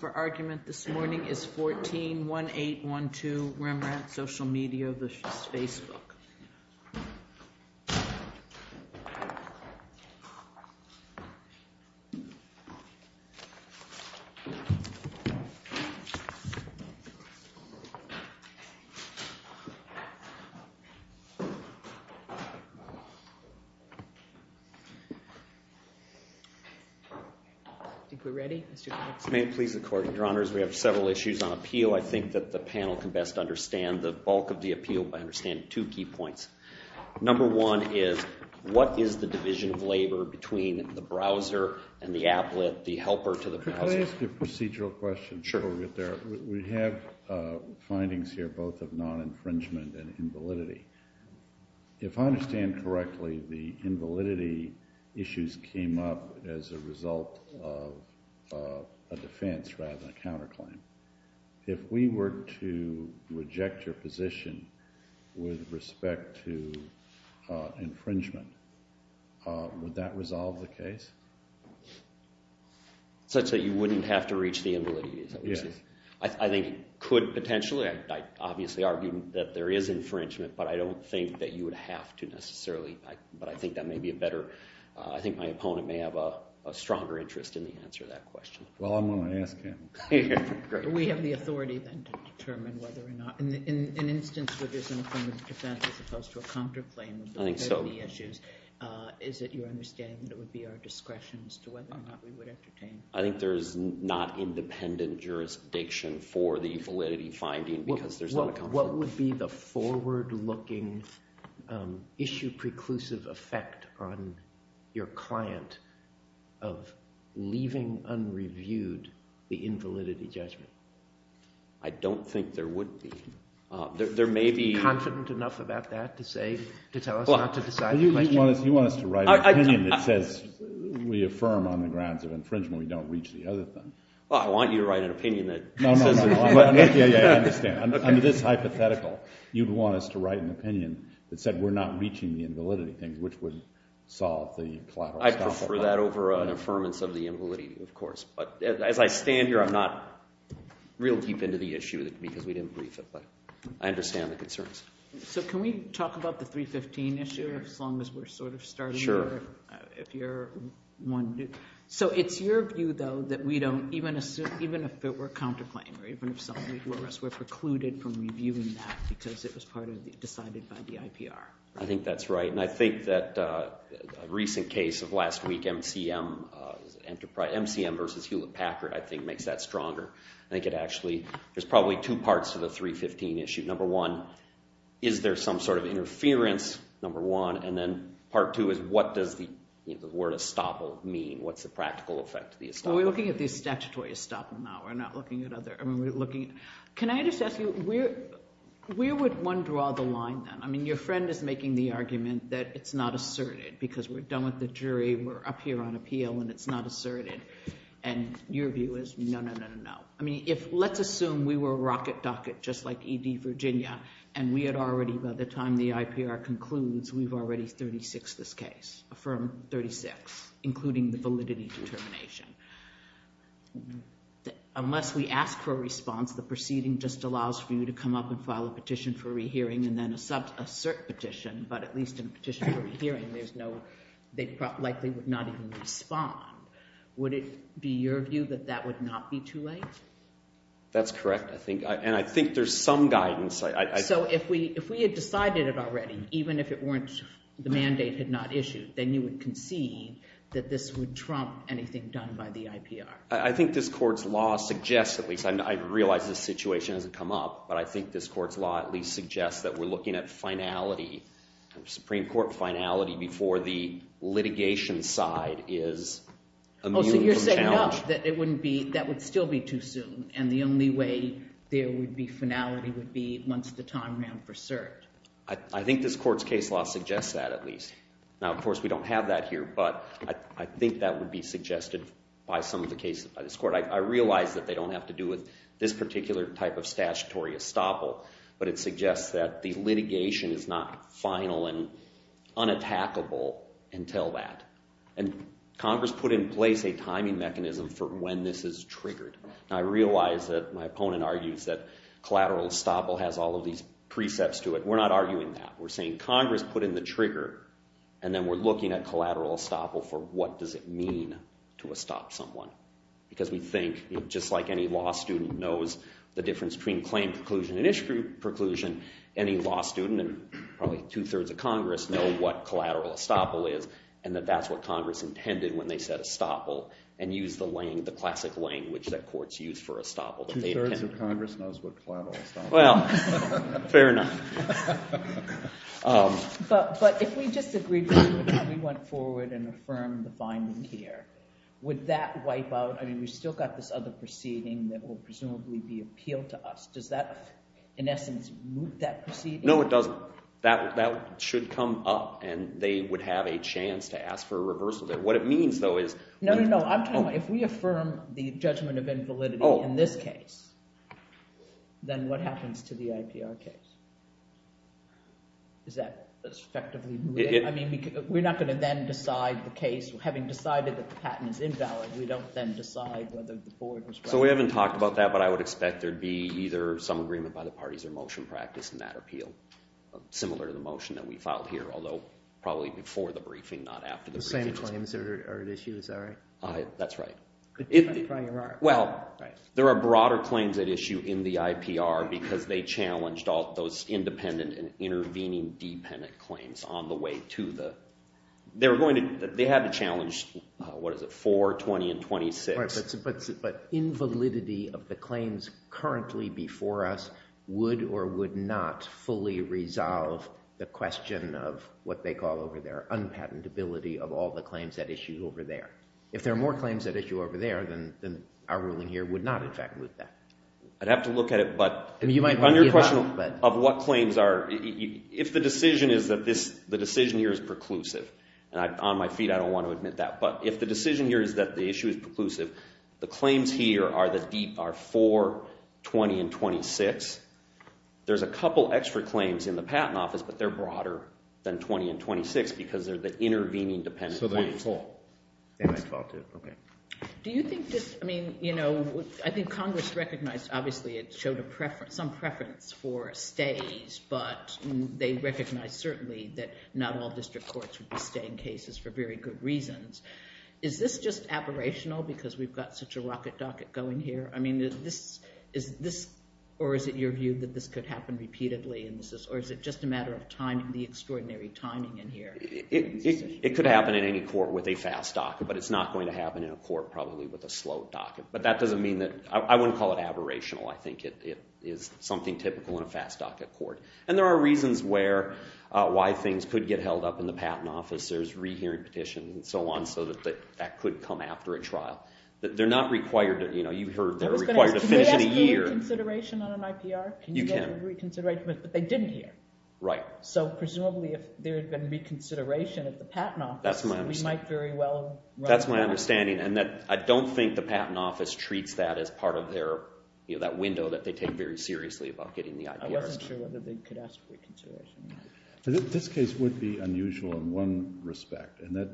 For argument this morning is 14-1812 Rembrandt Social Media v. Facebook. May it please the court, your honors, we have several issues on appeal. I think that the panel can best understand the bulk of the appeal by understanding two key points. Number one is, what is the division of labor between the browser and the applet, the helper to the browser? Could I ask a procedural question before we get there? We have findings here, both of non-infringement and invalidity. If I understand correctly, the invalidity issues came up as a result of a defense rather than a counterclaim. If we were to reject your position with respect to infringement, would that resolve the case? Such that you wouldn't have to reach the invalidity, is that what you're saying? Yes. I think it could potentially. I obviously argue that there is infringement, but I don't think that you would have to necessarily. But I think that may be a better, I think my opponent may have a stronger interest in the answer to that question. Well, I'm going to ask him. Great. We have the authority then to determine whether or not, in an instance where there's an affirmative defense as opposed to a counterclaim with regard to the issues, is it your understanding that it would be our discretion as to whether or not we would entertain? I think there's not independent jurisdiction for the validity finding because there's not a counterclaim. What would be the forward-looking, issue-preclusive effect on your client of leaving unreviewed the invalidity judgment? I don't think there would be. There may be... Are you confident enough about that to say, to tell us not to decide the question? You want us to write an opinion that says, we affirm on the grounds of infringement, we don't reach the other thing. Well, I want you to write an opinion that says the other thing. No, no, no. Yeah, I understand. Under this hypothetical, you'd want us to write an opinion that said, we're not reaching the invalidity thing, which would solve the collateral stuff. I prefer that over an affirmance of the invalidity, of course. But as I stand here, I'm not real deep into the issue because we didn't brief it, but I understand the concerns. So, can we talk about the 315 issue, as long as we're sort of starting there, if you're one... Sure. So, it's your view, though, that we don't, even if it were a counterclaim, or even if something were to arrest, we're precluded from reviewing that because it was part of the, decided by the IPR. I think that's right. And I think that a recent case of last week, MCM versus Hewlett-Packard, I think makes that stronger. I think it actually, there's probably two parts to the 315 issue. Number one, is there some sort of interference? Number one. And then part two is, what does the word estoppel mean? What's the practical effect of the estoppel? We're looking at the statutory estoppel now. We're not looking at other... I mean, we're looking... Can I just ask you, where would one draw the line then? I mean, your friend is making the argument that it's not asserted, because we're done with the jury, we're up here on appeal, and it's not asserted. And your view is, no, no, no, no, no. I mean, if, let's assume we were rocket docket, just like E.D. Virginia, and we had already, by the time the IPR concludes, we've already 36'd this case, affirmed 36, including the validity determination. Unless we ask for a response, the proceeding just allows for you to come up and file a cert petition, but at least in a petition for a hearing, there's no... They likely would not even respond. Would it be your view that that would not be too late? That's correct. I think... And I think there's some guidance. So if we had decided it already, even if the mandate had not issued, then you would concede that this would trump anything done by the IPR? I think this court's law suggests, at least, I realize this situation hasn't come up, but I think this court's law at least suggests that we're looking at finality, Supreme Court finality, before the litigation side is immune from challenge. Oh, so you're saying, no, that it wouldn't be, that would still be too soon, and the only way there would be finality would be once the time ran for cert? I think this court's case law suggests that, at least. Now, of course, we don't have that here, but I think that would be suggested by some of the cases by this court. I realize that they don't have to do with this particular type of statutory estoppel, but it suggests that the litigation is not final and unattackable until that. And Congress put in place a timing mechanism for when this is triggered. Now, I realize that my opponent argues that collateral estoppel has all of these precepts to it. We're not arguing that. We're saying Congress put in the trigger, and then we're looking at collateral estoppel for what does it mean to estop someone? Because we think, just like any law student knows the difference between claim preclusion and issue preclusion, any law student, and probably two-thirds of Congress, know what collateral estoppel is, and that that's what Congress intended when they said estoppel, and used the classic language that courts use for estoppel. Two-thirds of Congress knows what collateral estoppel is. Well, fair enough. But if we disagreed with it and we went forward and affirmed the finding here, would that wipe out? I mean, we've still got this other proceeding that will presumably be appealed to us. Does that, in essence, move that proceeding? No, it doesn't. That should come up, and they would have a chance to ask for a reversal there. What it means, though, is... No, no, no. I'm talking about, if we affirm the judgment of invalidity in this case, then what happens to the IPR case? Is that effectively moving? I mean, we're not going to then decide the case, having decided that the patent is invalid. We don't then decide whether the court was right. So we haven't talked about that, but I would expect there'd be either some agreement by the parties or motion practiced in that appeal, similar to the motion that we filed here, although probably before the briefing, not after the briefing. The same claims are at issue, is that right? That's right. If the... Well, there are broader claims at issue in the IPR because they challenged all those independent and intervening dependent claims on the way to the... They had to challenge, what is it, 4, 20, and 26. But invalidity of the claims currently before us would or would not fully resolve the question of what they call over there, unpatentability of all the claims at issue over there. If there are more claims at issue over there, then our ruling here would not, in fact, move that. I'd have to look at it, but... I mean, you might want to... On your question of what claims are, if the decision is that this... And on my feet, I don't want to admit that, but if the decision here is that the issue is preclusive, the claims here are 4, 20, and 26. There's a couple extra claims in the Patent Office, but they're broader than 20 and 26 because they're the intervening dependent claims. So they might fall. They might fall, too. Okay. Do you think this... I mean, I think Congress recognized, obviously, it showed some preference for stays, but they recognized, certainly, that not all district courts would be staying cases for very good reasons. Is this just aberrational because we've got such a rocket docket going here? I mean, is this... Or is it your view that this could happen repeatedly, or is it just a matter of timing, the extraordinary timing in here? It could happen in any court with a fast docket, but it's not going to happen in a court, probably, with a slow docket. But that doesn't mean that... I wouldn't call it aberrational. I think it is something typical in a fast docket court. And there are reasons why things could get held up in the Patent Office. There's rehearing petitions and so on, so that that could come after a trial. They're not required to... You've heard they're required to finish in a year. Can we ask for reconsideration on an IPR? You can. Can you go to a reconsideration? But they didn't hear. Right. So, presumably, if there had been reconsideration at the Patent Office, we might very well... That's my understanding. And I don't think the Patent Office treats that as part of their... That window that they take very seriously about getting the IPRs. I wasn't sure whether they could ask for reconsideration. This case would be unusual in one respect, and that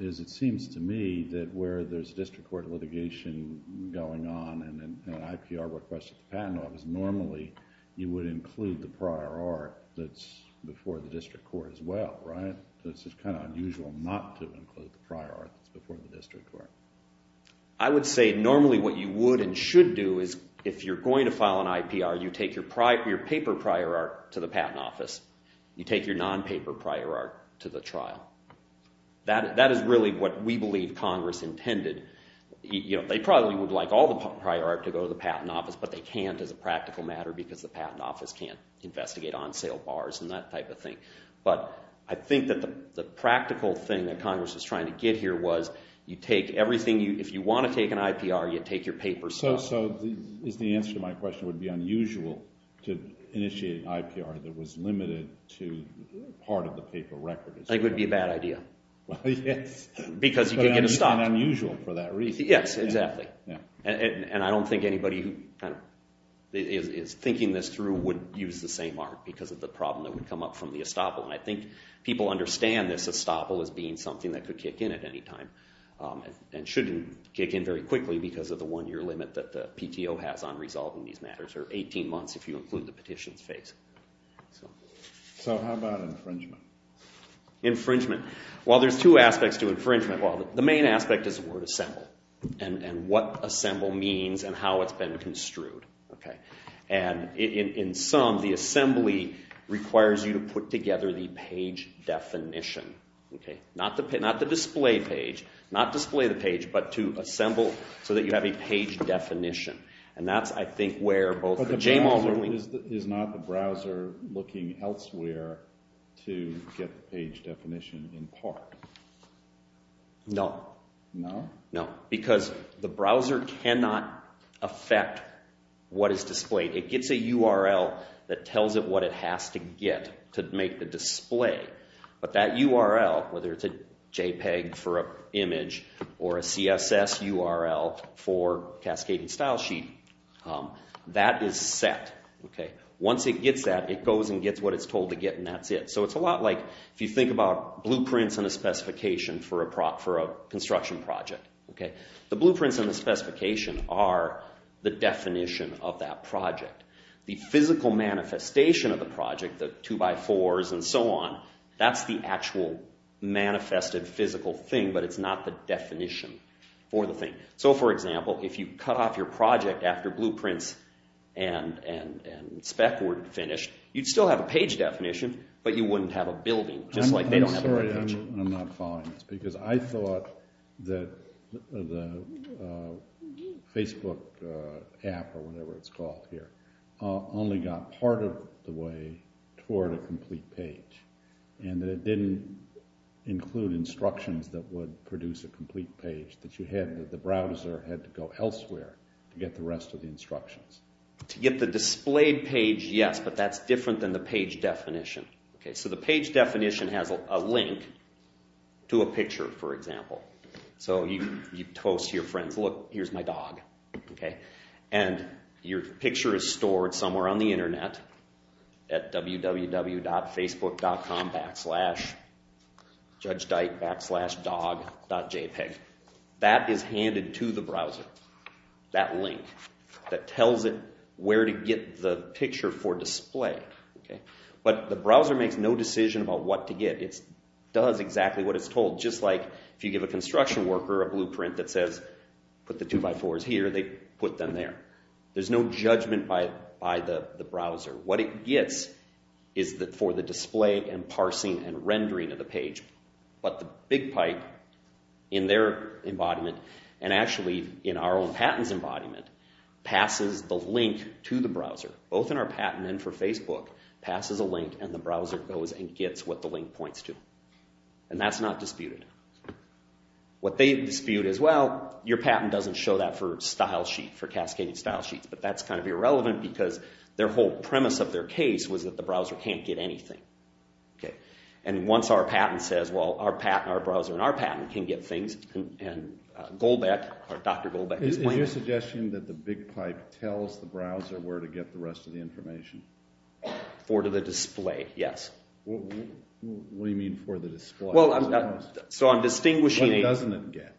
is, it seems to me, that where there's district court litigation going on and an IPR request at the Patent Office, normally, you would include the prior art that's before the district court as well, right? So it's just kind of unusual not to include the prior art that's before the district court. I would say, normally, what you would and should do is, if you're going to file an IPR, you take your paper prior art to the Patent Office. You take your non-paper prior art to the trial. That is really what we believe Congress intended. They probably would like all the prior art to go to the Patent Office, but they can't as a practical matter because the Patent Office can't investigate on-sale bars and that type of thing. But I think that the practical thing that Congress was trying to get here was, you take everything... If you want to take an IPR, you take your paper stuff. So the answer to my question would be unusual to initiate an IPR that was limited to part of the paper record. I think it would be a bad idea. Well, yes. Because you could get a stop. It would be unusual for that reason. Yes, exactly. And I don't think anybody who is thinking this through would use the same art because of the problem that would come up from the estoppel. And I think people understand this estoppel as being something that could kick in at any time and shouldn't kick in very quickly because of the one-year limit that the PTO has on resolving these matters or 18 months if you include the petitions phase. So how about infringement? Infringement. While there's two aspects to infringement, the main aspect is the word assemble and what assemble means and how it's been construed. And in sum, the assembly requires you to put together the page definition. Not the display page, not display the page, but to assemble so that you have a page definition. And that's, I think, where both the JMALs are... But the browser is not the browser looking elsewhere to get the page definition in part. No. No? No. Because the browser cannot affect what is displayed. It gets a URL that tells it what it has to get to make the display. But that URL, whether it's a JPEG for an image or a CSS URL for Cascading Style Sheet, that is set. Once it gets that, it goes and gets what it's told to get and that's it. So it's a lot like if you think about blueprints and a specification for a construction project. The blueprints and the specification are the definition of that project. The physical manifestation of the project, the 2x4s and so on, that's the actual manifested physical thing, but it's not the definition for the thing. So, for example, if you cut off your project after blueprints and spec were finished, you'd still have a page definition, but you wouldn't have a building. Just like they don't have a page. Because I thought that the Facebook app or whatever it's called here only got part of the way toward a complete page and that it didn't include instructions that would produce a complete page, that the browser had to go elsewhere to get the rest of the instructions. To get the displayed page, yes, but that's different than the page definition. So the page definition has a link to a picture, for example. So you post to your friends, look, here's my dog. And your picture is stored somewhere on the internet at www.facebook.com backslash judgedyke backslash dog.jpg. That is handed to the browser, that link that tells it where to get the picture for display. But the browser makes no decision about what to get. It does exactly what it's told. Just like if you give a construction worker a blueprint that says put the 2x4s here, they put them there. There's no judgment by the browser. What it gets is for the display and parsing and rendering of the page. But the big pipe in their embodiment, and actually in our own patent's embodiment, passes the link to the browser, both in our patent and for Facebook, passes a link and the browser goes and gets what the link points to. And that's not disputed. What they dispute is, well, your patent doesn't show that for style sheets, for cascading style sheets. But that's kind of irrelevant because their whole premise of their case was that the browser can't get anything. And once our patent says, well, our browser and our patent can get things, and Goldbeck, or Dr. Goldbeck's point... Is your suggestion that the big pipe tells the browser where to get the rest of the information? For the display, yes. What do you mean for the display? Well, so I'm distinguishing... What doesn't it get?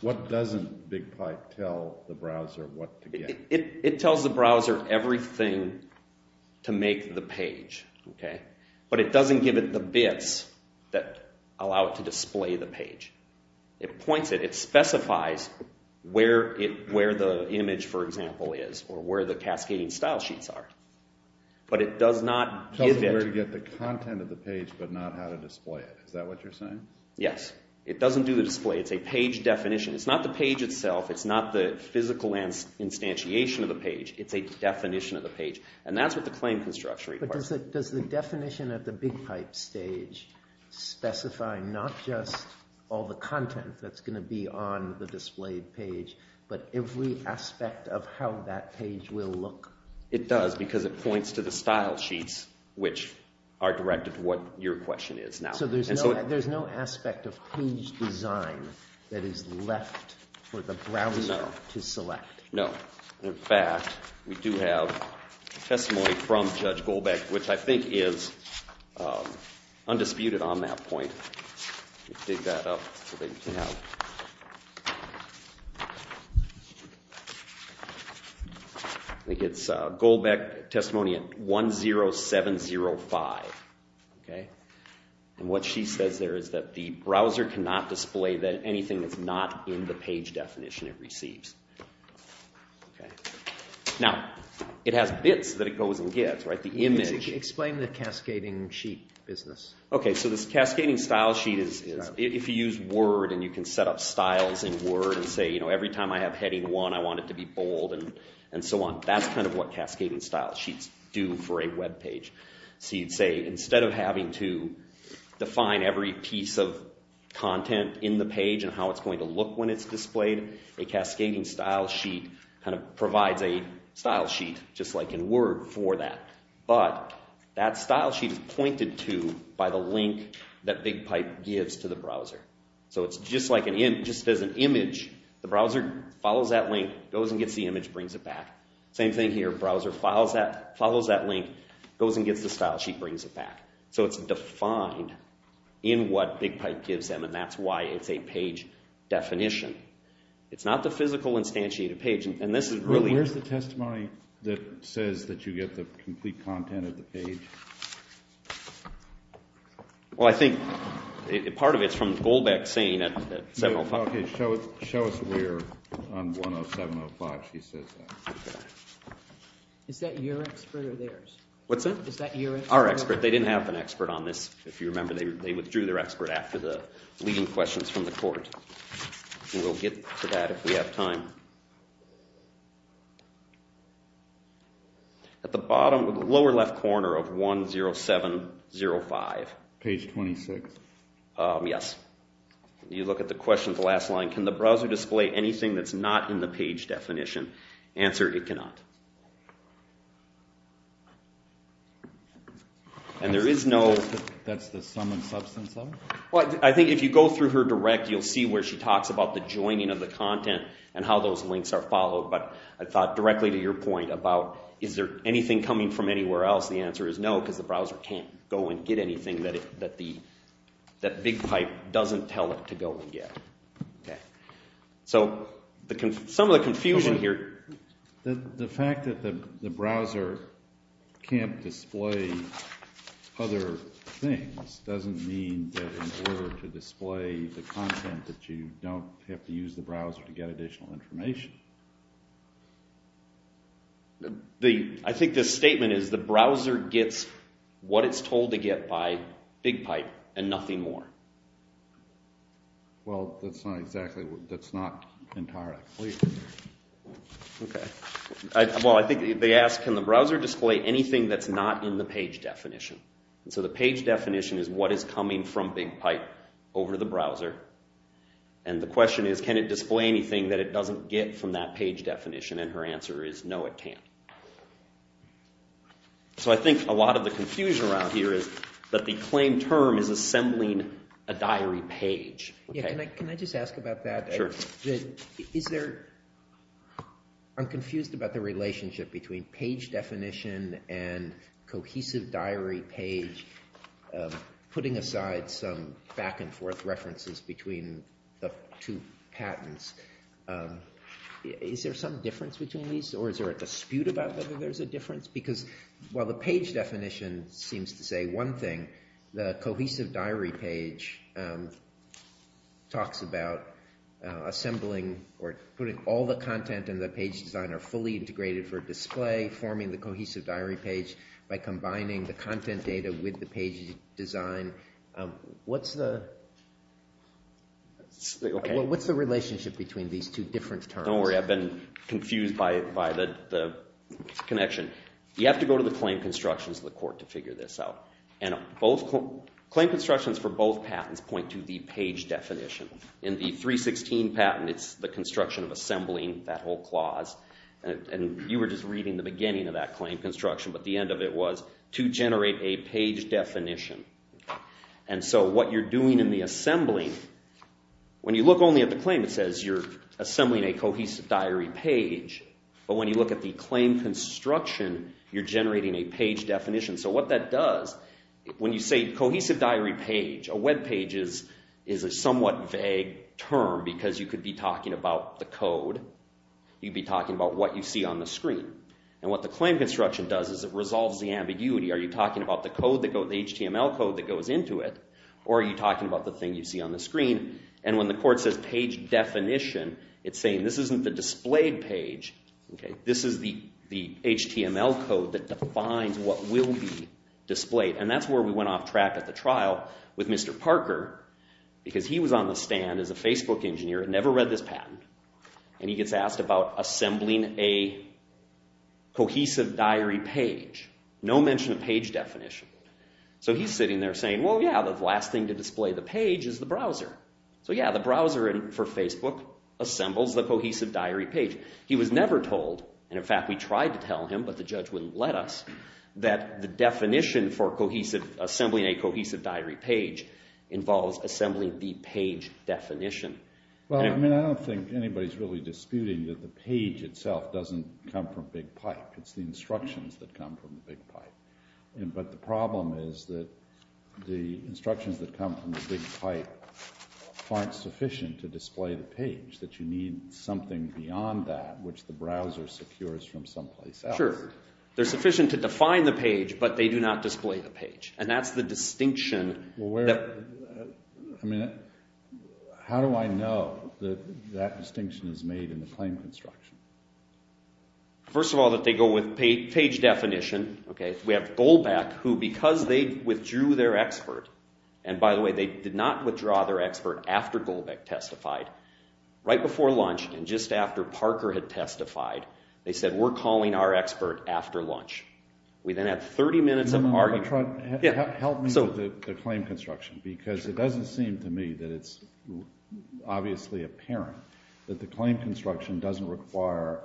What doesn't big pipe tell the browser what to get? It tells the browser everything to make the page. But it doesn't give it the bits that allow it to display the page. It points it. It specifies where the image, for example, is, or where the cascading style sheets are. But it does not give it... Tells it where to get the content of the page, but not how to display it. Is that what you're saying? Yes. It doesn't do the display. It's a page definition. It's not the page itself. It's not the physical instantiation of the page. It's a definition of the page. And that's what the claim construction requires. But does the definition of the big pipe stage specify not just all the content that's going to be on the displayed page, but every aspect of how that page will look? It does, because it points to the style sheets, which are directed to what your question is now. So there's no aspect of page design that is left for the browser to select? No. In fact, we do have a testimony from Judge Goldbeck, which I think is undisputed on that point. Let me dig that up so that you can have... I think it's Goldbeck testimony at 10705. And what she says there is that the browser cannot display anything that's not in the page definition it receives. Now, it has bits that it goes and gets, right? Explain the cascading sheet business. Okay, so this cascading style sheet is... If you use Word and you can set up styles in Word and say, you know, every time I have heading one, I want it to be bold and so on. That's kind of what cascading style sheets do for a web page. So you'd say, instead of having to define every piece of content in the page and how it's going to look when it's displayed, a cascading style sheet kind of provides a style sheet just like in Word for that. But that style sheet is pointed to by the link that BigPipe gives to the browser. So it's just like an image. The browser follows that link, goes and gets the image, brings it back. Same thing here. Browser follows that link, goes and gets the style sheet, brings it back. So it's defined in what BigPipe gives them, and that's why it's a page definition. It's not the physical instantiated page, and this is really... Where's the testimony that says that you get the complete content of the page? Well, I think part of it's from Goldbeck saying at 705... Okay, show us where on 10705 she says that. Is that your expert or theirs? What's that? Our expert. They didn't have an expert on this, if you remember. They withdrew their expert after the leading questions from the court. We'll get to that if we have time. At the bottom, the lower left corner of 10705... Page 26. Yes. You look at the question at the last line. Can the browser display anything that's not in the page definition? Answer, it cannot. And there is no... That's the sum and substance of it? Well, I think if you go through her direct, you'll see where she talks about the joining of the content and how those links are followed, but I thought directly to your point about, is there anything coming from anywhere else? The answer is no, because the browser can't go and get anything that BigPipe doesn't tell it to go and get. Some of the confusion here... The fact that the browser can't display other things doesn't mean that in order to display the content that you don't have to use the browser to get additional information. I think the statement is the browser gets what it's told to get by BigPipe and nothing more. Well, that's not exactly... That's not entirely clear. Okay. Well, I think they ask, can the browser display anything that's not in the page definition? So the page definition is what is coming from BigPipe over the browser. And the question is, can it display anything that it doesn't get from that page definition? And her answer is, no, it can't. So I think a lot of the confusion around here is that the claim term is assembling a diary page. Yeah, can I just ask about that? Sure. Is there... I'm confused about the relationship between page definition and cohesive diary page putting aside some back and forth references between the two patents. Is there some difference between these? Or is there a dispute about whether there's a difference? Because while the page definition seems to say one thing, the cohesive diary page talks about assembling or putting all the content in the page design are fully integrated for display, forming the cohesive diary page by combining the content data with the page design. What's the... What's the relationship between these two different terms? Don't worry, I've been confused by the connection. You have to go to the claim constructions of the court to figure this out. And both... Claim constructions for both patents point to the page definition. In the 316 patent, it's the construction of assembling that whole clause. And you were just reading the beginning of that claim construction, but the end of it was to generate a page definition. And so what you're doing in the assembling, when you look only at the claim, it says you're assembling a cohesive diary page. But when you look at the claim construction, you're generating a page definition. So what that does, when you say cohesive diary page, a web page is a somewhat vague term because you could be talking about the code. You'd be talking about what you see on the screen. And what the claim construction does is it resolves the ambiguity. Are you talking about the HTML code that goes into it? Or are you talking about the thing you see on the screen? And when the court says page definition, it's saying this isn't the displayed page. This is the HTML code that defines what will be displayed. And that's where we went off track at the trial with Mr. Parker because he was on the stand as a Facebook engineer and never read this patent. And he gets asked about assembling a cohesive diary page. No mention of page definition. So he's sitting there saying, well yeah, the last thing to display the page is the browser. So yeah, the browser for Facebook assembles the cohesive diary page. He was never told, and in fact we tried to tell him, but the judge wouldn't let us, that the definition for assembling a cohesive diary page involves assembling the page definition. I don't think anybody's really disputing that the page itself doesn't come from BigPipe. It's the instructions that come from BigPipe. But the problem is that the instructions that come from BigPipe aren't sufficient to display the page. That you need something beyond that which the browser secures from someplace else. Sure. They're sufficient to define the page, but they do not display the page. And that's the distinction that... I mean, how do I know that that distinction is made in the claim construction? First of all, that they go with page definition. We have Goldbach, who because they withdrew their expert, and by the way, they did not withdraw their expert after Goldbach testified. Right before lunch, and just after Parker had testified, they said we're calling our expert after lunch. We then had 30 minutes of argument. Help me with the claim construction, because it doesn't seem to me that it's obviously apparent that the claim construction doesn't require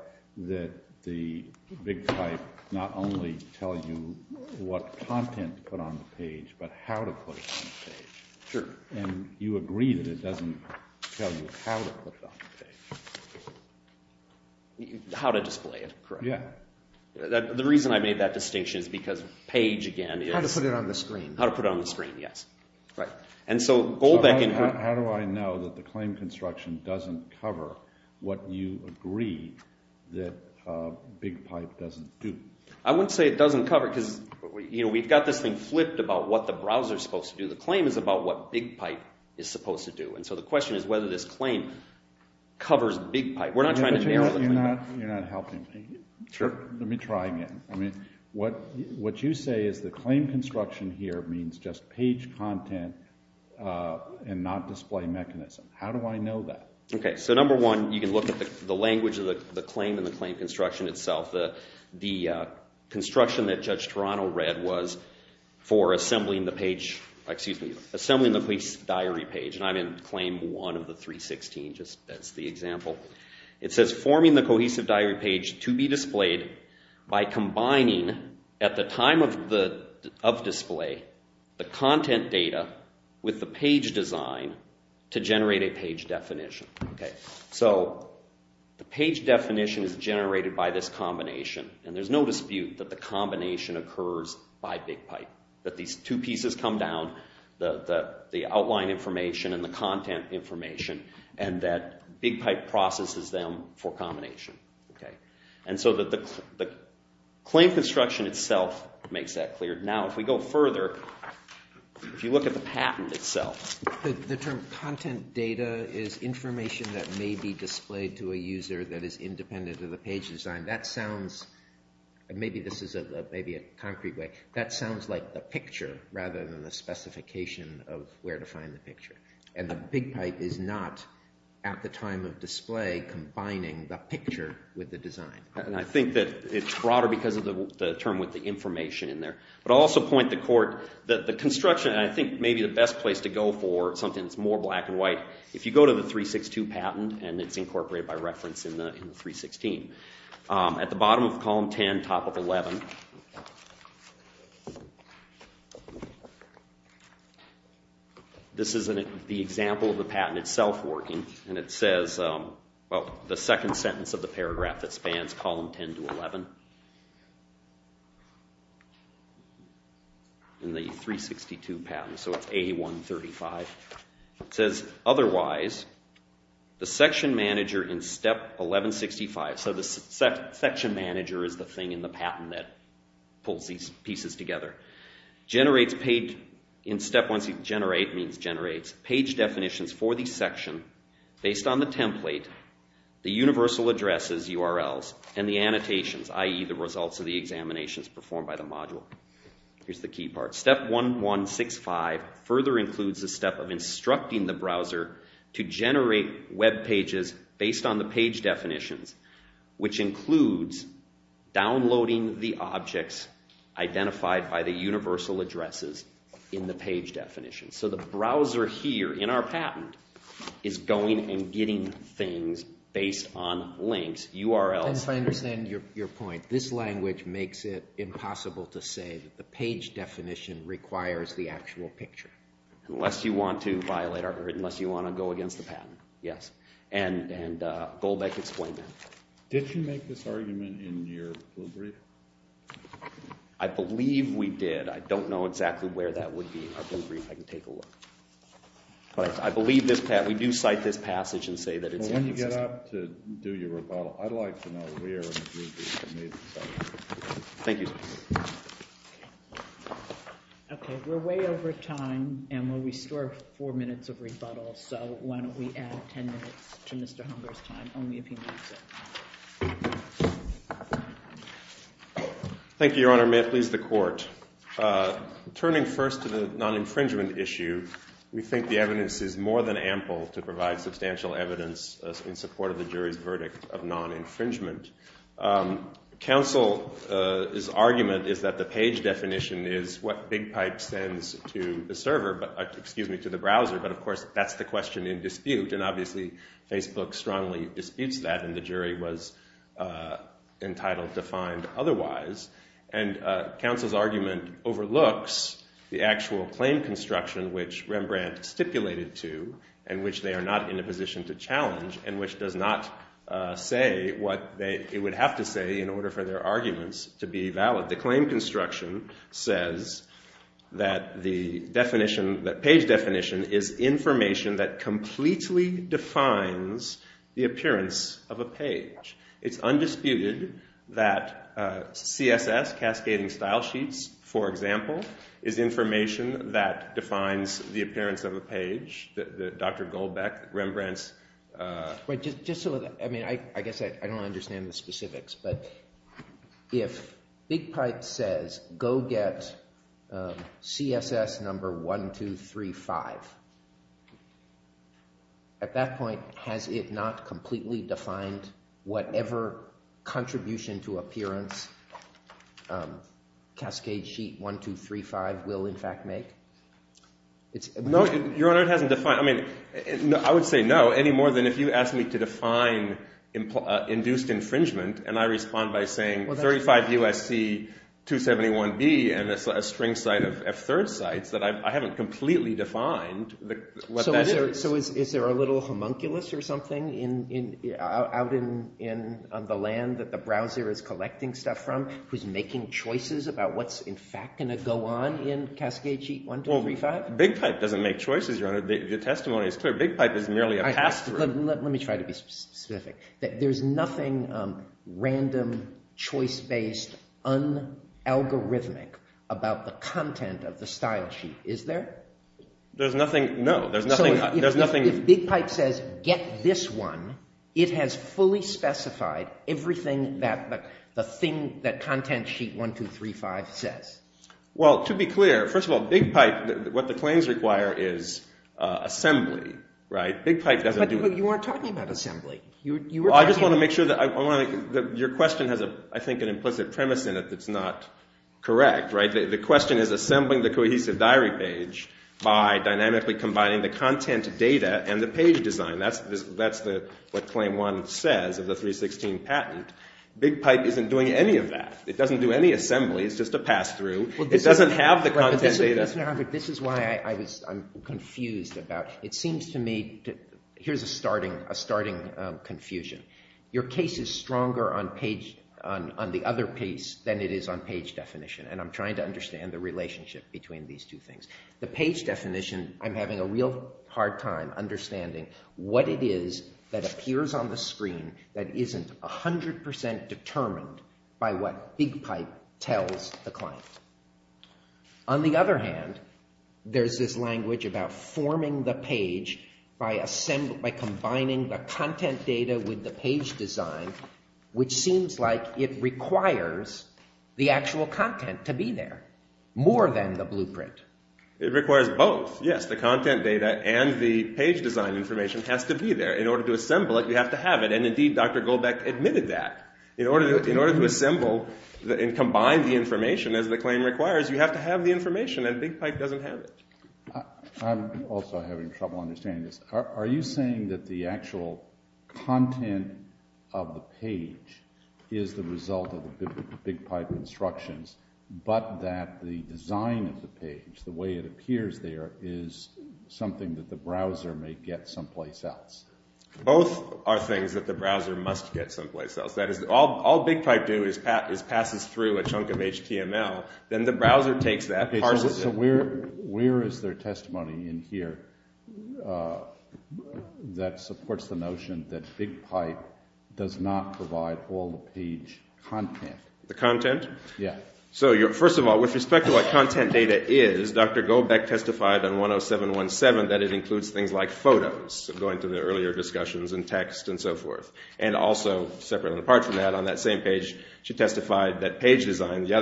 that the BigPipe not only tell you what content to put on the page, but how to put it on the page. Sure. And you agree that it doesn't tell you how to put it on the page. How to display it, correct. Yeah. The reason I made that distinction is because page, again... How to put it on the screen. How to put it on the screen, yes. Right. And so Goldbach... How do I know that the claim construction doesn't cover what you agree that BigPipe doesn't do? I wouldn't say it doesn't cover it, because we've got this thing flipped about what the browser's supposed to do. The claim is about what BigPipe is supposed to do. And so the question is whether this claim covers BigPipe. We're not trying to narrow it. You're not helping me. Let me try again. What you say is the claim construction here means just page content and not display mechanism. How do I know that? Okay. So number one, you can look at the language of the claim and the claim construction that Judge Toronto read was for assembling the page, excuse me, assembling the diary page. And I'm in claim one of the 316, just as the example. It says, forming the cohesive diary page to be displayed by combining at the time of display the content data with the page design to generate a page definition. Okay. So the page definition is generated by this combination. And there's no dispute that the combination occurs by BigPipe. That these two pieces come down, the outline information and the content information, and that BigPipe processes them for combination. Okay. And so the claim construction itself makes that clear. Now, if we go further, if you look at the patent itself. The term content data is information that may be displayed to a design. That sounds, maybe this is a concrete way, that sounds like the picture, rather than the specification of where to find the picture. And the BigPipe is not, at the time of display, combining the picture with the design. And I think that it's broader because of the term with the information in there. But I'll also point to court that the construction, and I think maybe the best place to go for something that's more black and white, if you go to the 362 patent, and it's incorporated by reference in the 316. At the bottom of column 10, top of 11, this is the example of the patent itself working, and it says, well, the second sentence of the paragraph that spans column 10 to 11 in the 362 patent, so it's A135. It says, otherwise, the section manager in step 1165, so the section manager is the thing in the patent that pulls these pieces together, in step 1, generate means generates, page definitions for the section, based on the template, the universal addresses, URLs, and the annotations, i.e. the results of the examinations performed by the module. Here's the key part. Step 1165 further includes a step of generate web pages based on the page definitions, which includes downloading the objects identified by the universal addresses in the page definition. So the browser here, in our patent, is going and getting things based on links, URLs. If I understand your point, this language makes it impossible to say that the page definition requires the actual picture. Unless you want to go back to the patent, yes. And Goldbeck explained that. Did you make this argument in your brief? I believe we did. I don't know exactly where that would be. I can take a look. We do cite this passage and say that it's in existence. When you get up to do your rebuttal, I'd like to know where in the brief you made this argument. Thank you. Okay, we're way over time, and we'll restore four minutes of rebuttal, so why don't we add ten minutes to Mr. Hunger's time, only if he needs it. Thank you, Your Honor. May it please the Court. Turning first to the non-infringement issue, we think the evidence is more than ample to provide substantial evidence in support of the jury's verdict of non-infringement. Counsel's argument is that the page definition is what BigPipe sends to the browser, but of course that's the question in dispute, and obviously Facebook strongly disputes that, and the jury was entitled to find otherwise. Counsel's argument overlooks the actual claim construction which Rembrandt stipulated to, and which they are not in a position to challenge, and which does not say what it would have to say in order for their arguments to be valid. The claim construction says that the definition, the page definition, is information that completely defines the appearance of a page. It's undisputed that CSS, Cascading Style Sheets, for example, is information that defines the appearance of a page that Dr. Goldbeck, Rembrandt's... Just so that, I mean, I guess I don't understand the specifics, but if BigPipe says, go get CSS number 1, 2, 3, 5, at that point has it not completely defined whatever contribution to appearance Cascade Sheet 1, 2, 3, 5 will in fact make? No, Your Honor, it hasn't defined, I mean, I would say no, any more than if you asked me to define induced infringement and I respond by saying 35 USC 271B and a string site of F3rd sites that I haven't completely defined what that is. So is there a little homunculus or something out on the land that the browser is collecting stuff from who's making choices about what's in fact going to go on in Cascade Sheet 1, 2, 3, 5? BigPipe doesn't make choices, Your Honor, the testimony is clear. BigPipe is merely a password. Let me try to be specific. There's nothing random, choice-based, un-algorithmic about the content of the style sheet, is there? There's nothing, no, there's nothing If BigPipe says, get this one, it has fully specified everything that the thing, that content sheet 1, 2, 3, 5 says. Well, to be clear, first of all, BigPipe what the claims require is assembly, right? You weren't talking about assembly. I just want to make sure that your question has, I think, an implicit premise in it that's not correct, right? The question is assembling the cohesive diary page by dynamically combining the content data and the page design. That's what Claim 1 says of the 316 patent. BigPipe isn't doing any of that. It doesn't do any assembly. It's just a pass-through. It doesn't have the content data. This is why I'm confused about, it seems to me here's a starting confusion. Your case is stronger on the other piece than it is on page definition and I'm trying to understand the relationship between these two things. The page definition I'm having a real hard time understanding what it is that appears on the screen that isn't 100% determined by what BigPipe tells the client. On the other hand there's this language about forming the page by combining the content data with the page design which seems like it requires the actual content to be there, more than the blueprint. It requires both. Yes, the content data and the page design information has to be there. In order to assemble it, you have to have it and indeed Dr. Goldbeck admitted that. In order to assemble and combine the information as the claim requires you have to have the information and BigPipe doesn't have it. I'm also having trouble understanding this. Are you saying that the actual content of the page is the result of the BigPipe instructions but that the design of the page, the way it appears there is something that the browser may get someplace else? Both are things that the browser must get someplace else. All BigPipe does is passes through a chunk of HTML then the browser takes that and parses it. Where is there testimony in here that supports the notion that BigPipe does not provide all the page content? The content? First of all, with respect to what content data is, Dr. Goldbeck testified on 10717 that it includes things like photos, going to the earlier discussions and text and so forth. Also, separate and apart from that, on that same page, she testified that page design, the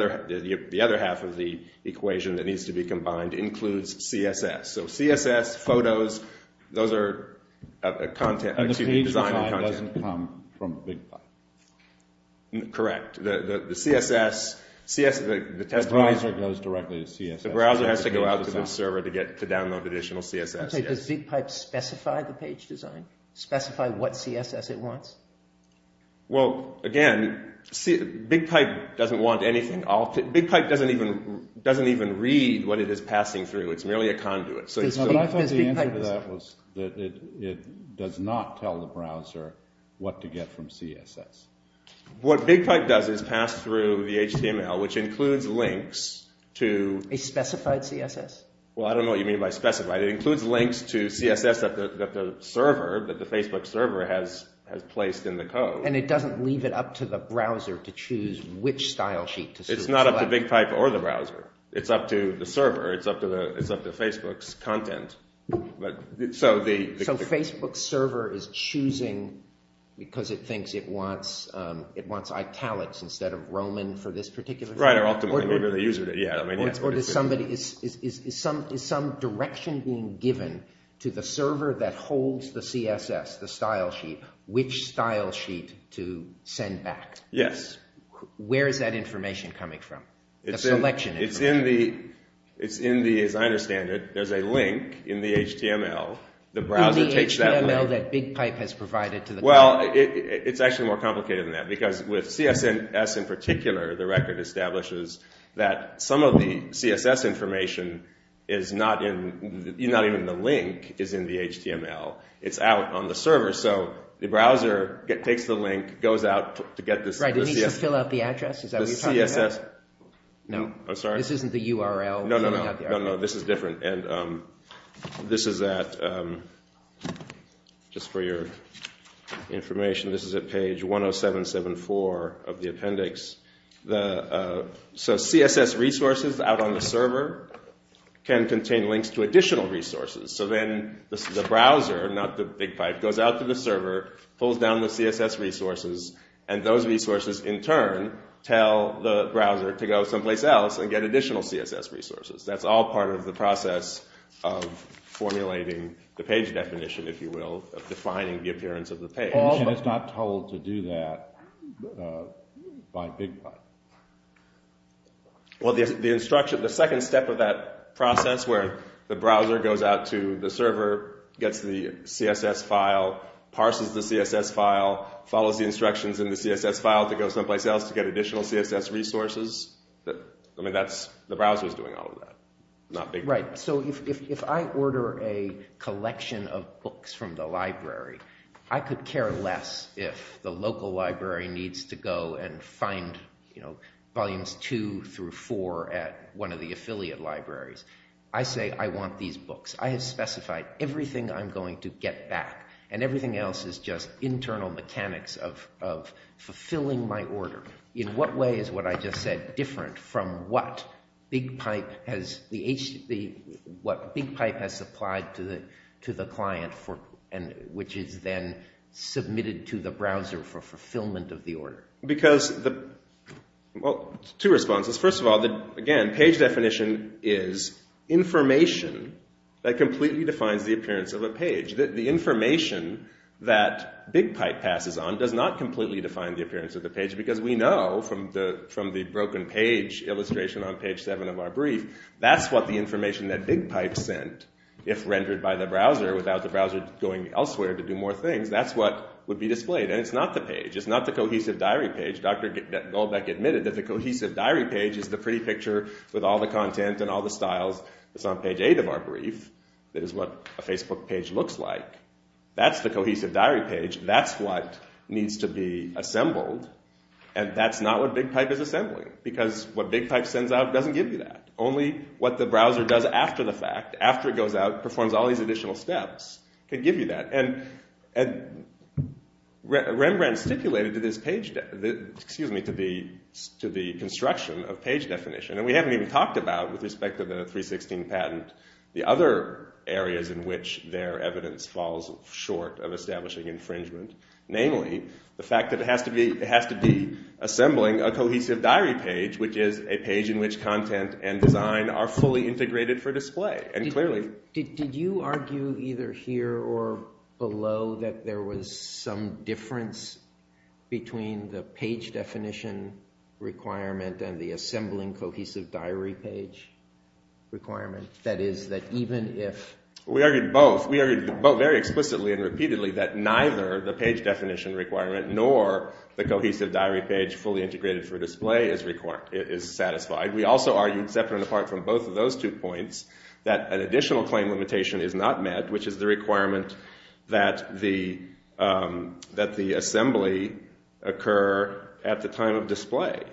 other half of the equation that needs to be combined includes CSS. CSS, photos, those are design and content. And the page design doesn't come from BigPipe? Correct. The CSS goes directly to CSS. The browser has to go out to the server to download additional CSS. Does BigPipe specify the page design? Specify what CSS it wants? Well, again BigPipe doesn't want anything. BigPipe doesn't even read what it is passing through. It's merely a conduit. I thought the answer to that was that it does not tell the browser what to get from CSS. What BigPipe does is pass through the HTML, which includes links to A specified CSS? I don't know what you mean by specified. It includes links to CSS that the server that the Facebook server has placed in the code. And it doesn't leave it up to the browser to choose which style sheet to select? It's not up to BigPipe or the browser. It's up to the server. It's up to Facebook's content. So Facebook's server is choosing because it thinks it wants italics instead of Roman for this particular thing? Right, or ultimately whatever the user needs. Is some direction being given to the server that holds the CSS, the style sheet, which style sheet to send back? Yes. Where is that information coming from? The selection information? It's in the, as I understand it, there's a link in the HTML the browser takes that link. In the HTML that BigPipe has provided to the browser? It's actually more complicated than that because with CSS in particular, the record establishes that some of the CSS information is not in the link, is in the HTML. It's out on the server so the browser takes the link goes out to get the CSS. Does it need to fill out the address? No, this isn't the URL. No, this is different. This is at just for your information this is at page 10774 of the appendix. So CSS resources out on the server can contain links to additional resources so then the browser not the BigPipe, goes out to the server pulls down the CSS resources and those resources in turn tell the browser to go someplace else and get additional CSS resources. That's all part of the process of formulating the page definition, if you will, of defining the appearance of the page. And it's not told to do that by BigPipe? Well the instruction the second step of that process where the browser goes out to the server, gets the CSS file, parses the CSS file, follows the instructions in the CSS file to go someplace else to get additional CSS resources I mean that's, the browser's doing all of that. Not BigPipe. Right, so if I order a collection of books from the library I could care less if the local library needs to go and find volumes 2 through 4 at one of the affiliate libraries I say I want these books. I have specified everything I'm going to get back. And everything else is just internal mechanics of fulfilling my order. In what way is what I just said different from what BigPipe has supplied to the client which is then submitted to the because two responses, first of all page definition is information that completely defines the appearance of a page the information that BigPipe passes on does not completely define the appearance of the page because we know from the broken page illustration on page 7 of our brief that's what the information that BigPipe sent if rendered by the browser without the browser going elsewhere to do more things, that's what would be displayed and it's not the page. It's not the cohesive diary page. Dr. Goldbeck admitted that the cohesive diary page is the pretty picture with all the content and all the styles that's on page 8 of our brief that is what a Facebook page looks like that's the cohesive diary page that's what needs to be assembled and that's not what BigPipe is assembling because what BigPipe sends out doesn't give you that only what the browser does after the fact after it goes out, performs all these additional steps can give you that and Rembrandt stipulated to the construction of page definition and we haven't even talked about with respect to the 316 patent the other areas in which their evidence falls short of establishing infringement, namely the fact that it has to be assembling a cohesive diary page which is a page in which content and design are fully integrated for display and clearly did you argue either here or below that there was some difference between the page definition requirement and the assembling cohesive diary page requirement that is that even if we argued both very explicitly and repeatedly that neither the page definition requirement nor the cohesive diary page fully integrated for display is satisfied we also argued separate and apart from both of those two points that an additional claim limitation is not met which is the requirement that the assembly occur at the time of display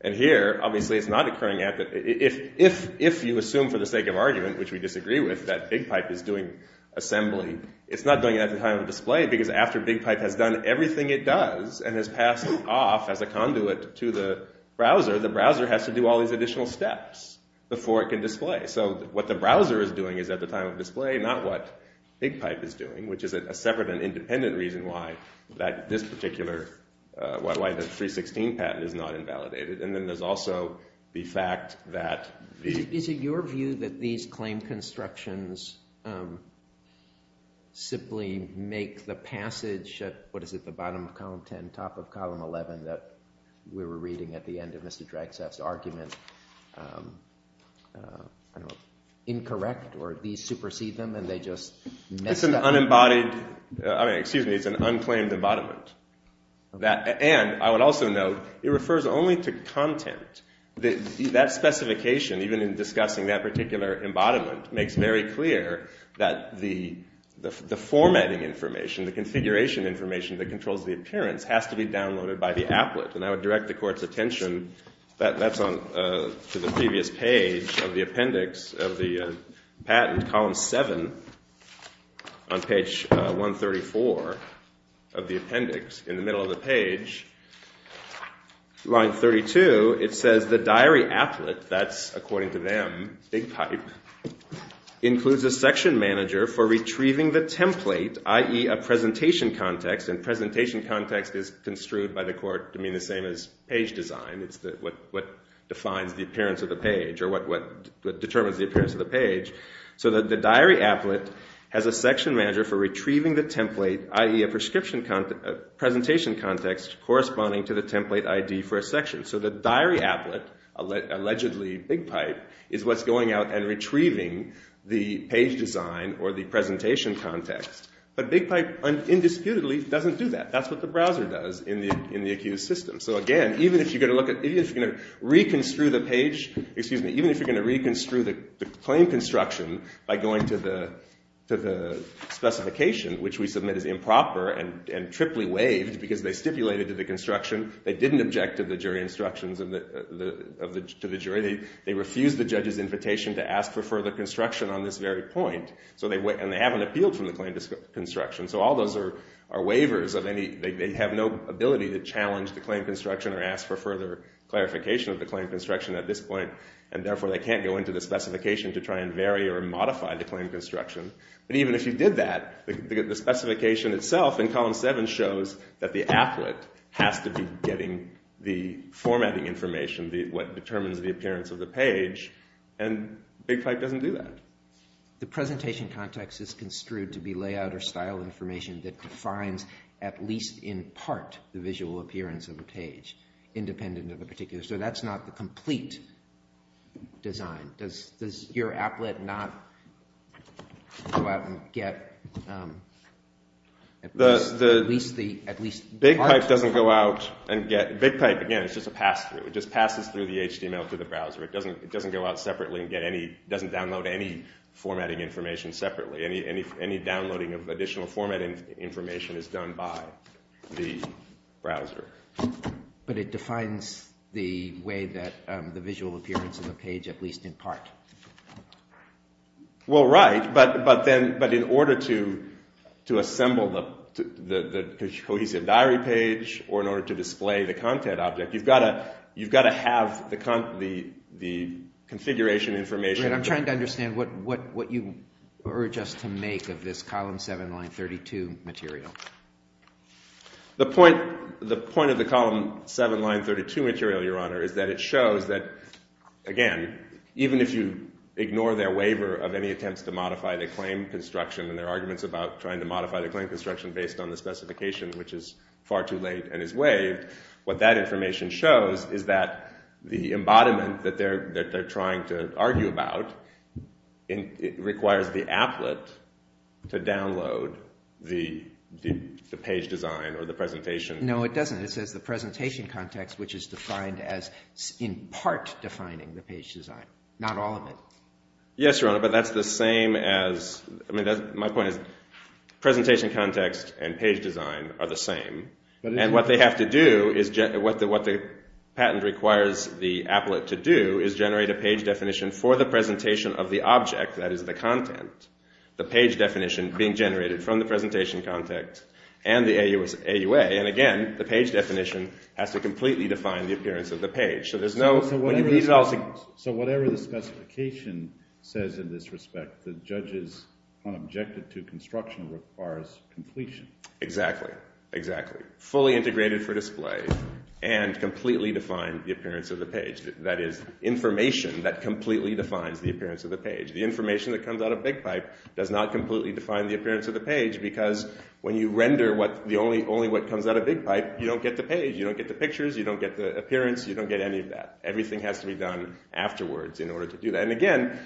and here obviously it's not occurring if you assume for the sake of argument, which we disagree with that BigPipe is doing assembly it's not doing it at the time of display because after BigPipe has done everything it does and has passed off as a conduit to the browser, the browser has to do all these additional steps before it can display so what the browser is doing is at the time of display not what BigPipe is doing which is a separate and independent reason why this particular 316 patent is not invalidated and then there's also the fact that Is it your view that these claim constructions simply make the passage at the bottom of column 10 top of column 11 that we were reading at the end of Mr. Dragsaf's argument incorrect or these supersede them and they just It's an unembodied excuse me, it's an unclaimed embodiment and I would also note it refers only to content that specification even in discussing that particular embodiment makes very clear that the formatting information, the configuration information that controls the appearance has to be downloaded by the applet and I would direct the court's attention that's on the previous page of the appendix of the patent column 7 on page 134 of the appendix in the middle of the page line 32 it says the diary applet, that's according to them, BigPipe includes a section manager for retrieving the template i.e. a presentation context and presentation context is construed by the court to mean the same as page design it's what defines the appearance of the page or what determines the appearance of the page so the diary applet has a section manager for retrieving the template i.e. a presentation context corresponding to the template ID for a section so the diary applet, allegedly BigPipe is what's going out and retrieving the page design or the presentation context but BigPipe, indisputably, doesn't do that, that's what the browser does in the accused system, so again, even if you reconstruct the page, excuse me, even if you're going to reconstruct the claim construction by going to the specification, which we submit is improper and triply waived because they stipulated to the construction they didn't object to the jury instructions to the jury they refused the judge's invitation to ask for further clarification of their point and they haven't appealed from the claim construction so all those are waivers they have no ability to challenge the claim construction or ask for further clarification of the claim construction at this point and therefore they can't go into the specification to try and vary or modify the claim construction but even if you did that the specification itself in column 7 shows that the applet has to be getting the formatting information, what determines the appearance of the page and BigPipe doesn't do that The presentation context is construed to be layout or style information that defines at least in part the visual appearance of a page, independent of a particular so that's not the complete design does your applet not go out and get BigPipe doesn't go out and get BigPipe again is just a pass through it just passes through the HTML to the browser it doesn't go out separately it doesn't download any formatting information separately, any downloading of additional formatting information is done by the browser but it defines the way that the visual appearance of a page at least in part well right, but in order to assemble the cohesive diary page or in order to you've got to have the configuration information I'm trying to understand what you urge us to make of this column 7 line 32 material the point of the column 7 line 32 material your honor is that it shows that again even if you ignore their waiver of any attempts to modify the claim construction and their arguments about trying to modify the claim construction based on the specification which is far too late and is waived what that information shows is that the embodiment that they're trying to argue about requires the applet to download the page design or the presentation no it doesn't it says the presentation context which is defined as in part defining the page design not all of it yes your honor but that's the same as my point is presentation context and page design are the same and what they have to do what the patent requires the applet to do is generate a page definition for the presentation of the object that is the content the page definition being generated from the presentation context and the AUA and again the page definition has to completely define the appearance of the page so there's no so whatever the specification says in this respect the judge's objective to construction requires completion exactly fully integrated for display and completely defined the appearance of the page that is information that completely defines the appearance of the page the information that comes out of big pipe does not completely define the appearance of the page because when you render only what comes out of big pipe you don't get the page, you don't get the pictures you don't get the appearance you don't get any of that everything has to be done afterwards and again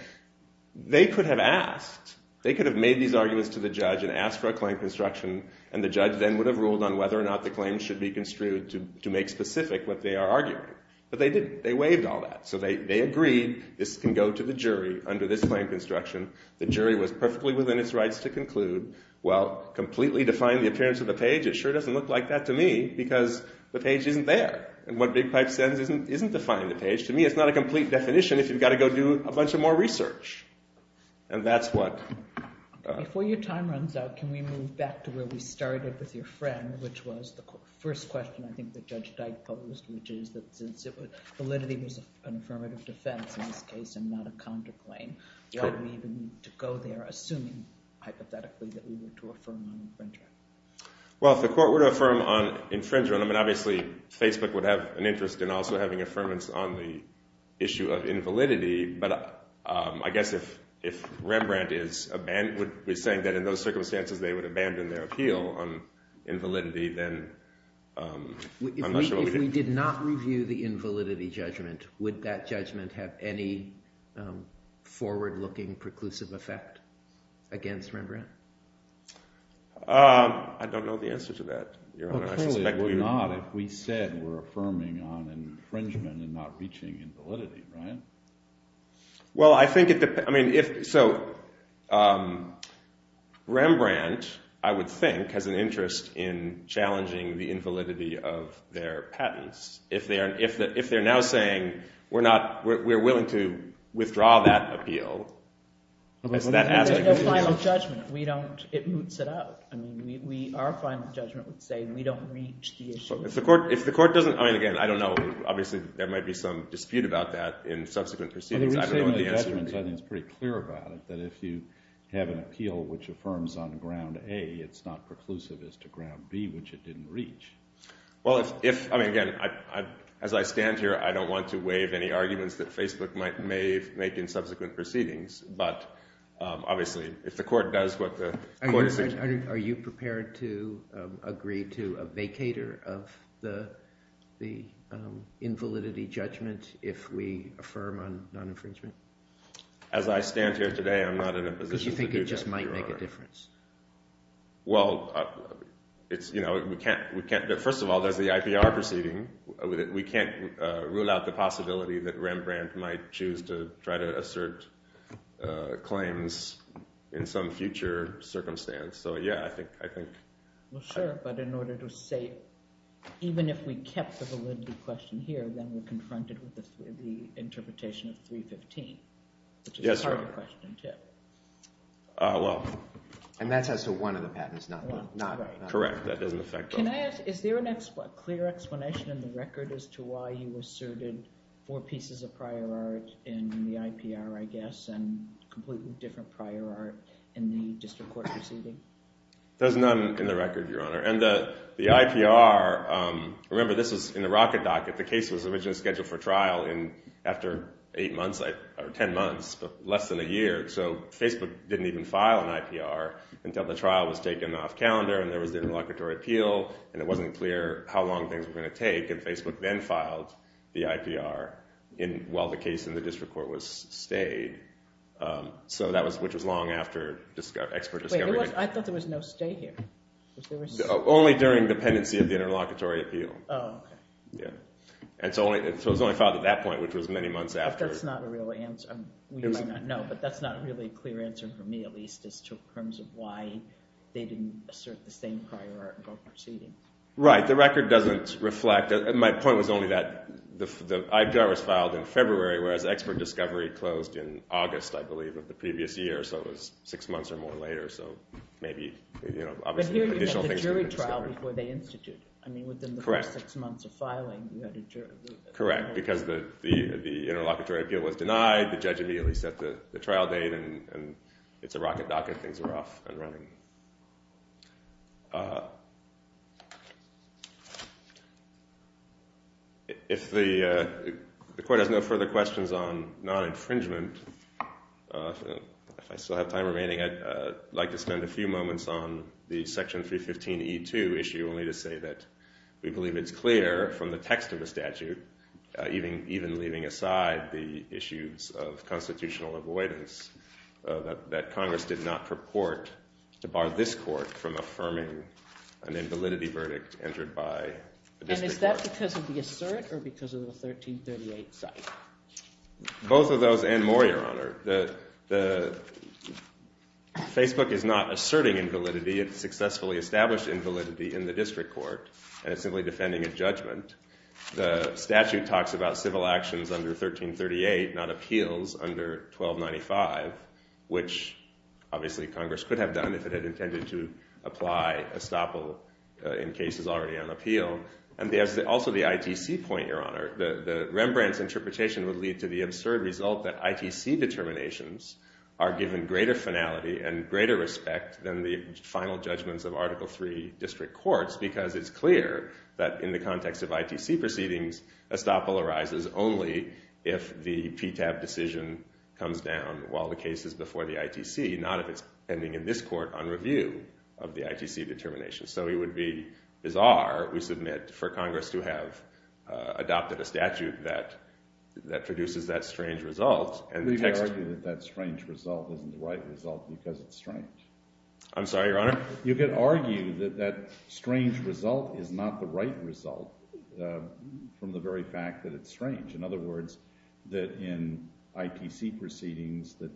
they could have asked they could have made these arguments to the judge and asked for a claim of construction and the judge then would have ruled on whether or not the claim should be construed to make specific what they are arguing but they didn't, they waived all that so they agreed this can go to the jury under this claim of construction the jury was perfectly within its rights to conclude well, completely define the appearance of the page it sure doesn't look like that to me because the page isn't there and what big pipe says isn't defining the page to me it's not a complete definition if you've got to go do a bunch of more research and that's what before your time runs out can we move back to where we started with your friend which was the first question I think that Judge Dyke posed validity was an affirmative defense in this case and not a counterclaim why do we even need to go there assuming hypothetically that we were to affirm on infringer well if the court were to affirm on I would have an interest in also having affirmance on the issue of invalidity but I guess if Rembrandt is saying that in those circumstances they would abandon their appeal on invalidity then if we did not review the invalidity judgment would that judgment have any forward looking preclusive effect against Rembrandt I don't know the answer to that well clearly it would not if we said we're affirming on infringement and not reaching invalidity well I think so Rembrandt I would think has an interest in challenging the invalidity of their patents if they're now saying we're willing to withdraw that appeal there's no final judgment it boots it up our final judgment would say we don't reach the issue if the court doesn't there might be some dispute about that in subsequent proceedings I think it's pretty clear about it that if you have an appeal which affirms on ground A it's not preclusive as to ground B which it didn't reach well if as I stand here I don't want to waive any arguments that Facebook may make in subsequent proceedings but obviously if the court are you prepared to agree to a vacater of the invalidity judgment if we affirm on non-infringement as I stand here today I'm not in a position to do that well first of all there's the IPR proceeding we can't rule out the possibility that Rembrandt might choose to try to assert claims in some future circumstance so yeah I think but in order to say even if we kept the validity question here then we're confronted with the interpretation of 315 which is a harder question too well and that's as to one of the patents correct is there a clear explanation in the record as to why you asserted four pieces of prior art in the IPR I guess and completely different prior art in the district court proceeding there's none in the record your honor and the IPR remember this was in the rocket docket the case was originally scheduled for trial after 8 months or 10 months but less than a year so Facebook didn't even file an IPR until the trial was taken off calendar and there was an interlocutory appeal and it wasn't clear how long things were going to take and Facebook then filed the IPR while the case in the district court was stayed which was long after expert discovery I thought there was no stay here only during dependency of the interlocutory appeal and so it was only filed at that point which was many months but that's not a real answer you might not know but that's not really a clear answer for me at least as to why they didn't assert the same prior art in both proceedings right the record doesn't reflect my point was only that the IPR was filed in February whereas expert discovery closed in August I believe of the previous year so it was 6 months or more later so maybe but here you had the jury trial before they instituted I mean within the first 6 months of filing correct because the interlocutory appeal was denied the judge immediately set the trial date and it's a rocket docket things were off and running if the court has no further questions on non-infringement if I still have time remaining I'd like to spend a few moments on the section 315e2 issue only to say that we believe it's clear from the text of the statute even leaving aside the issues of constitutional avoidance that congress did not purport to bar this court from affirming an invalidity verdict entered by the district court and is that because of the assert or because of the 1338 site both of those and more your honor the facebook is not asserting invalidity it successfully established invalidity in the district court and it's simply defending a judgment the statute talks about civil actions under 1338 not appeals under 1295 which obviously congress could have done if it had intended to apply estoppel in cases already on appeal and there's also the ITC point your honor Rembrandt's interpretation would lead to the absurd result that ITC determinations are given greater finality and greater respect than the final judgments of article 3 district courts because it's clear that in the context of ITC proceedings estoppel arises only if the PTAB decision comes down while the case is before the ITC not if it's pending in this court on review of the ITC determination so it would be bizarre we submit for congress to have adopted a statute that that produces that strange result and the text that strange result isn't the right result because it's strange I'm sorry your honor you could argue that that strange result is not the right result from the very fact that it's strange in other words that in ITC proceedings that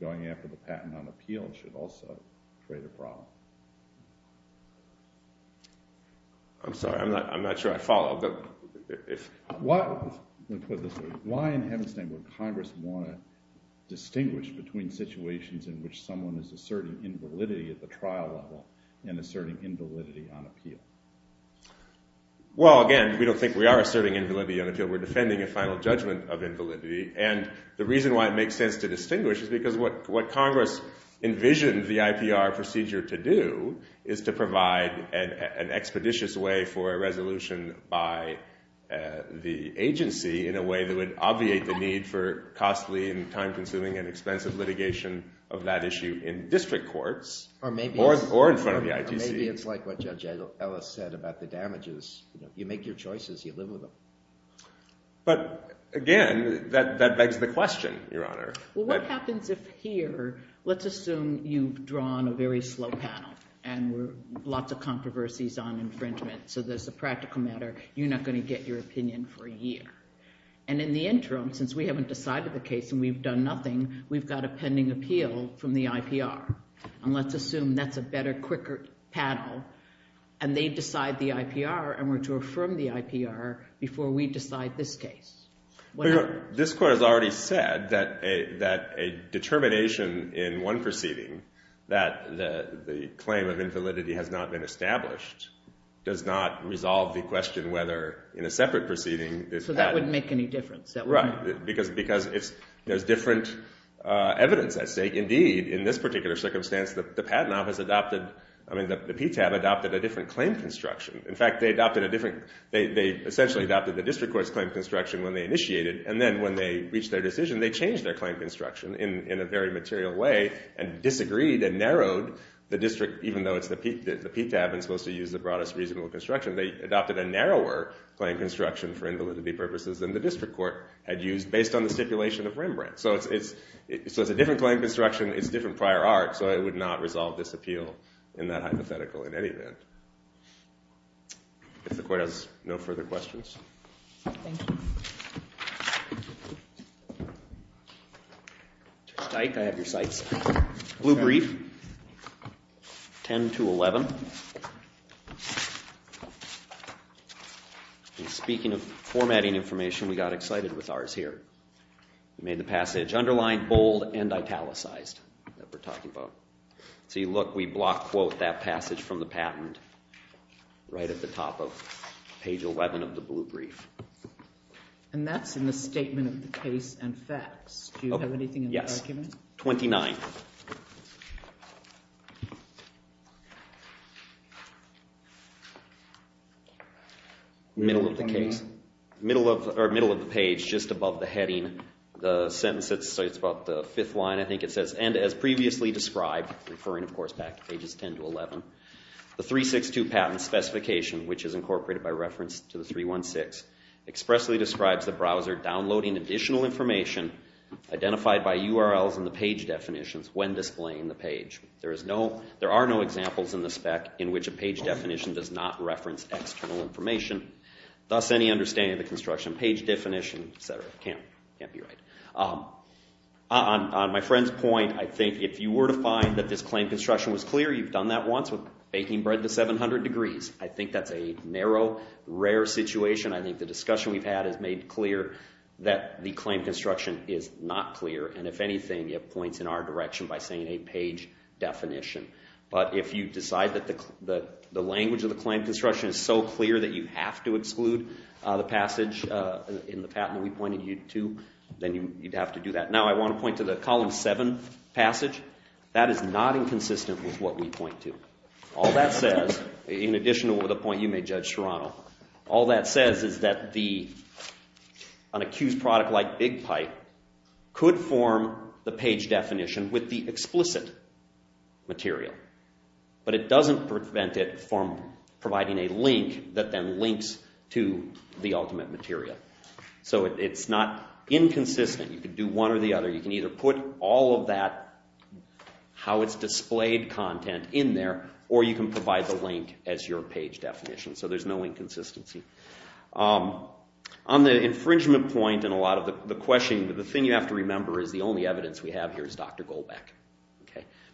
going after the patent on appeal should also create a problem I'm sorry I'm not sure I followed why in heaven's name would congress want to distinguish between situations in which someone is asserting invalidity at the trial level and asserting invalidity on appeal well again we don't think we are asserting invalidity on appeal we're defending a final judgment of what makes sense to distinguish is because what congress envisioned the IPR procedure to do is to provide an expeditious way for a resolution by the agency in a way that would obviate the need for costly and time consuming and expensive litigation of that issue in district courts or in front of the ITC or maybe it's like what Judge Ellis said about the damages you make your choices you live with them but again that begs the question your honor well what happens if here let's assume you've drawn a very slow panel and lots of controversies on infringement so there's a practical matter you're not gonna get your opinion for a year and in the interim since we haven't decided the case and we've done nothing we've got a pending appeal from the IPR and let's assume that's a better quicker panel and they decide the IPR and were to affirm the IPR before we decide this case this court has already said that a determination in one proceeding that the claim of invalidity has not been established does not resolve the question whether in a separate proceeding so that wouldn't make any difference right because there's different evidence indeed in this particular circumstance the patent office adopted the PTAB adopted a different claim construction in fact they adopted a different they essentially adopted the district court's claim construction when they initiated and then when they reached their decision they changed their claim construction in a very material way and disagreed and narrowed the district even though it's the PTAB and supposed to use the broadest reasonable construction they adopted a narrower claim construction for invalidity purposes than the district court had used based on the stipulation of Rembrandt so it's a different claim construction it's different prior art so it would not resolve this appeal in that hypothetical in any event if the court has no further questions thank you Mr. Stike I have your sights blue brief 10 to 11 speaking of formatting information we got excited with ours here made the passage underlined bold and italicized that we're talking about see look we block quote that passage from the patent right at the top of page 11 of the blue brief and that's in the statement of the case and facts do you have anything yes 29 middle of the case middle of or middle of the page just above the heading the sentence it's about the fifth line I think it says and as previously described referring of course back to pages 10 to 11 the 362 patent specification which is incorporated by reference to the 316 expressly describes the browser downloading additional information identified by URLs in the page definitions when displaying the page there is no there are no examples in the spec in which a page definition does not reference external information thus any understanding of the construction page definition etc can't be right on my friend's point I think if you were to find that this claim construction was clear you've done that once with baking bread to 700 degrees I think that's a narrow rare situation I think the discussion we've had is made clear that the claim construction is not clear and if anything it points in our direction by saying a page definition but if you decide that the language of the claim construction is so clear that you have to exclude the passage in the patent we pointed you to then you'd have to do that now I want to point to the column 7 passage that is not inconsistent with what we point to all that says in addition to the point you made Judge Serrano all that says is that the an accused product like big pipe could form the page definition with the explicit material but it doesn't prevent it from providing a link that then links to the ultimate material so it's not inconsistent you can do one or the other you can either put all of that how it's displayed content in there or you can provide the link as your page definition so there's no inconsistency on the infringement point and a lot of the question the thing you have to remember is the only evidence we have here is Dr. Goldbeck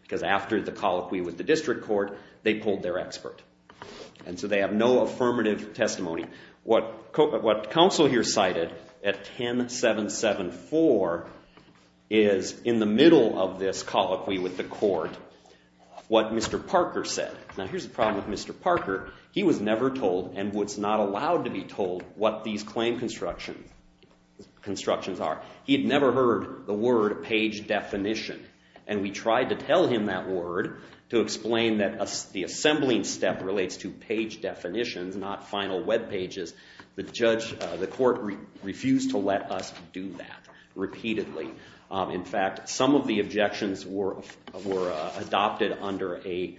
because after the colloquy with the district court they pulled their expert and so they have no affirmative testimony what counsel here cited at 10774 is in the middle of this colloquy with the court what Mr. Parker said now here's the problem with Mr. Parker he was never told and was not allowed to be told what these claim constructions are he had never heard the word page definition and we tried to tell him that word to explain that the page definitions not final webpages the court refused to let us do that repeatedly in fact some of the objections were adopted under a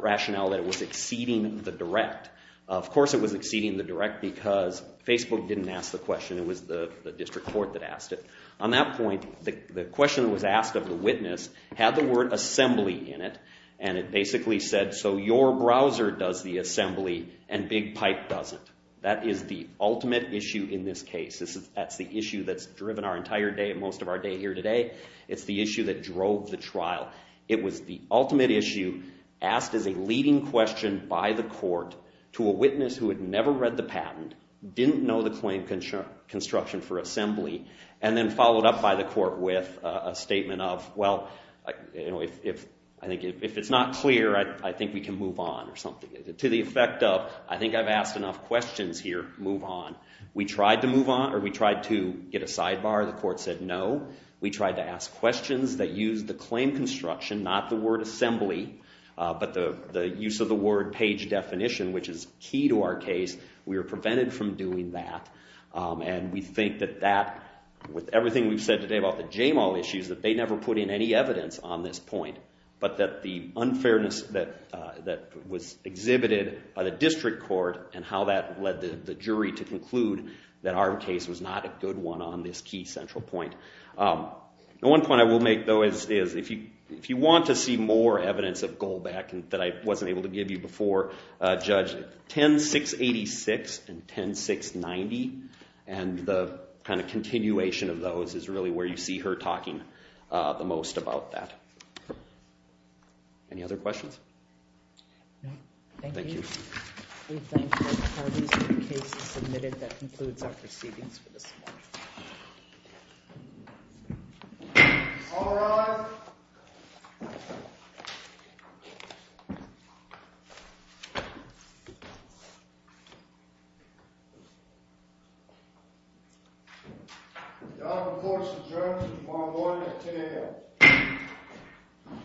rationale that it was exceeding the direct of course it was exceeding the direct because Facebook didn't ask the question it was the district court that asked it on that point the question that was asked of the witness had the word assembly in it and it basically said so your browser does the assembly and big pipe doesn't that is the ultimate issue in this case that's the issue that's driven our entire day and most of our day here today it's the issue that drove the trial it was the ultimate issue asked as a leading question by the court to a witness who had never read the patent didn't know the claim construction for assembly and then followed up by the court with a statement of well if I think if it's not clear I think we can move on or something to the effect of I think I've asked enough questions here move on we tried to move on or we tried to get a sidebar the court said no we tried to ask questions that used the claim construction not the word assembly but the use of the word page definition which is key to our case we were prevented from doing that and we think that that with everything we've said today about the JAMAL issues that they never put in any evidence on this point but that the unfairness that was exhibited by the district court and how that led the jury to conclude that our case was not a good one on this key central point the one point I will make though is if you want to see more evidence of Goldback that I wasn't able to give you before Judge 10-686 and 10-690 and the kind of continuation of those is really where you see her talking the most about that any other questions? No. Thank you. Thank you. We thank you. That concludes our proceedings for this morning. All rise. Order. The open court adjourns tomorrow morning at 10 a.m.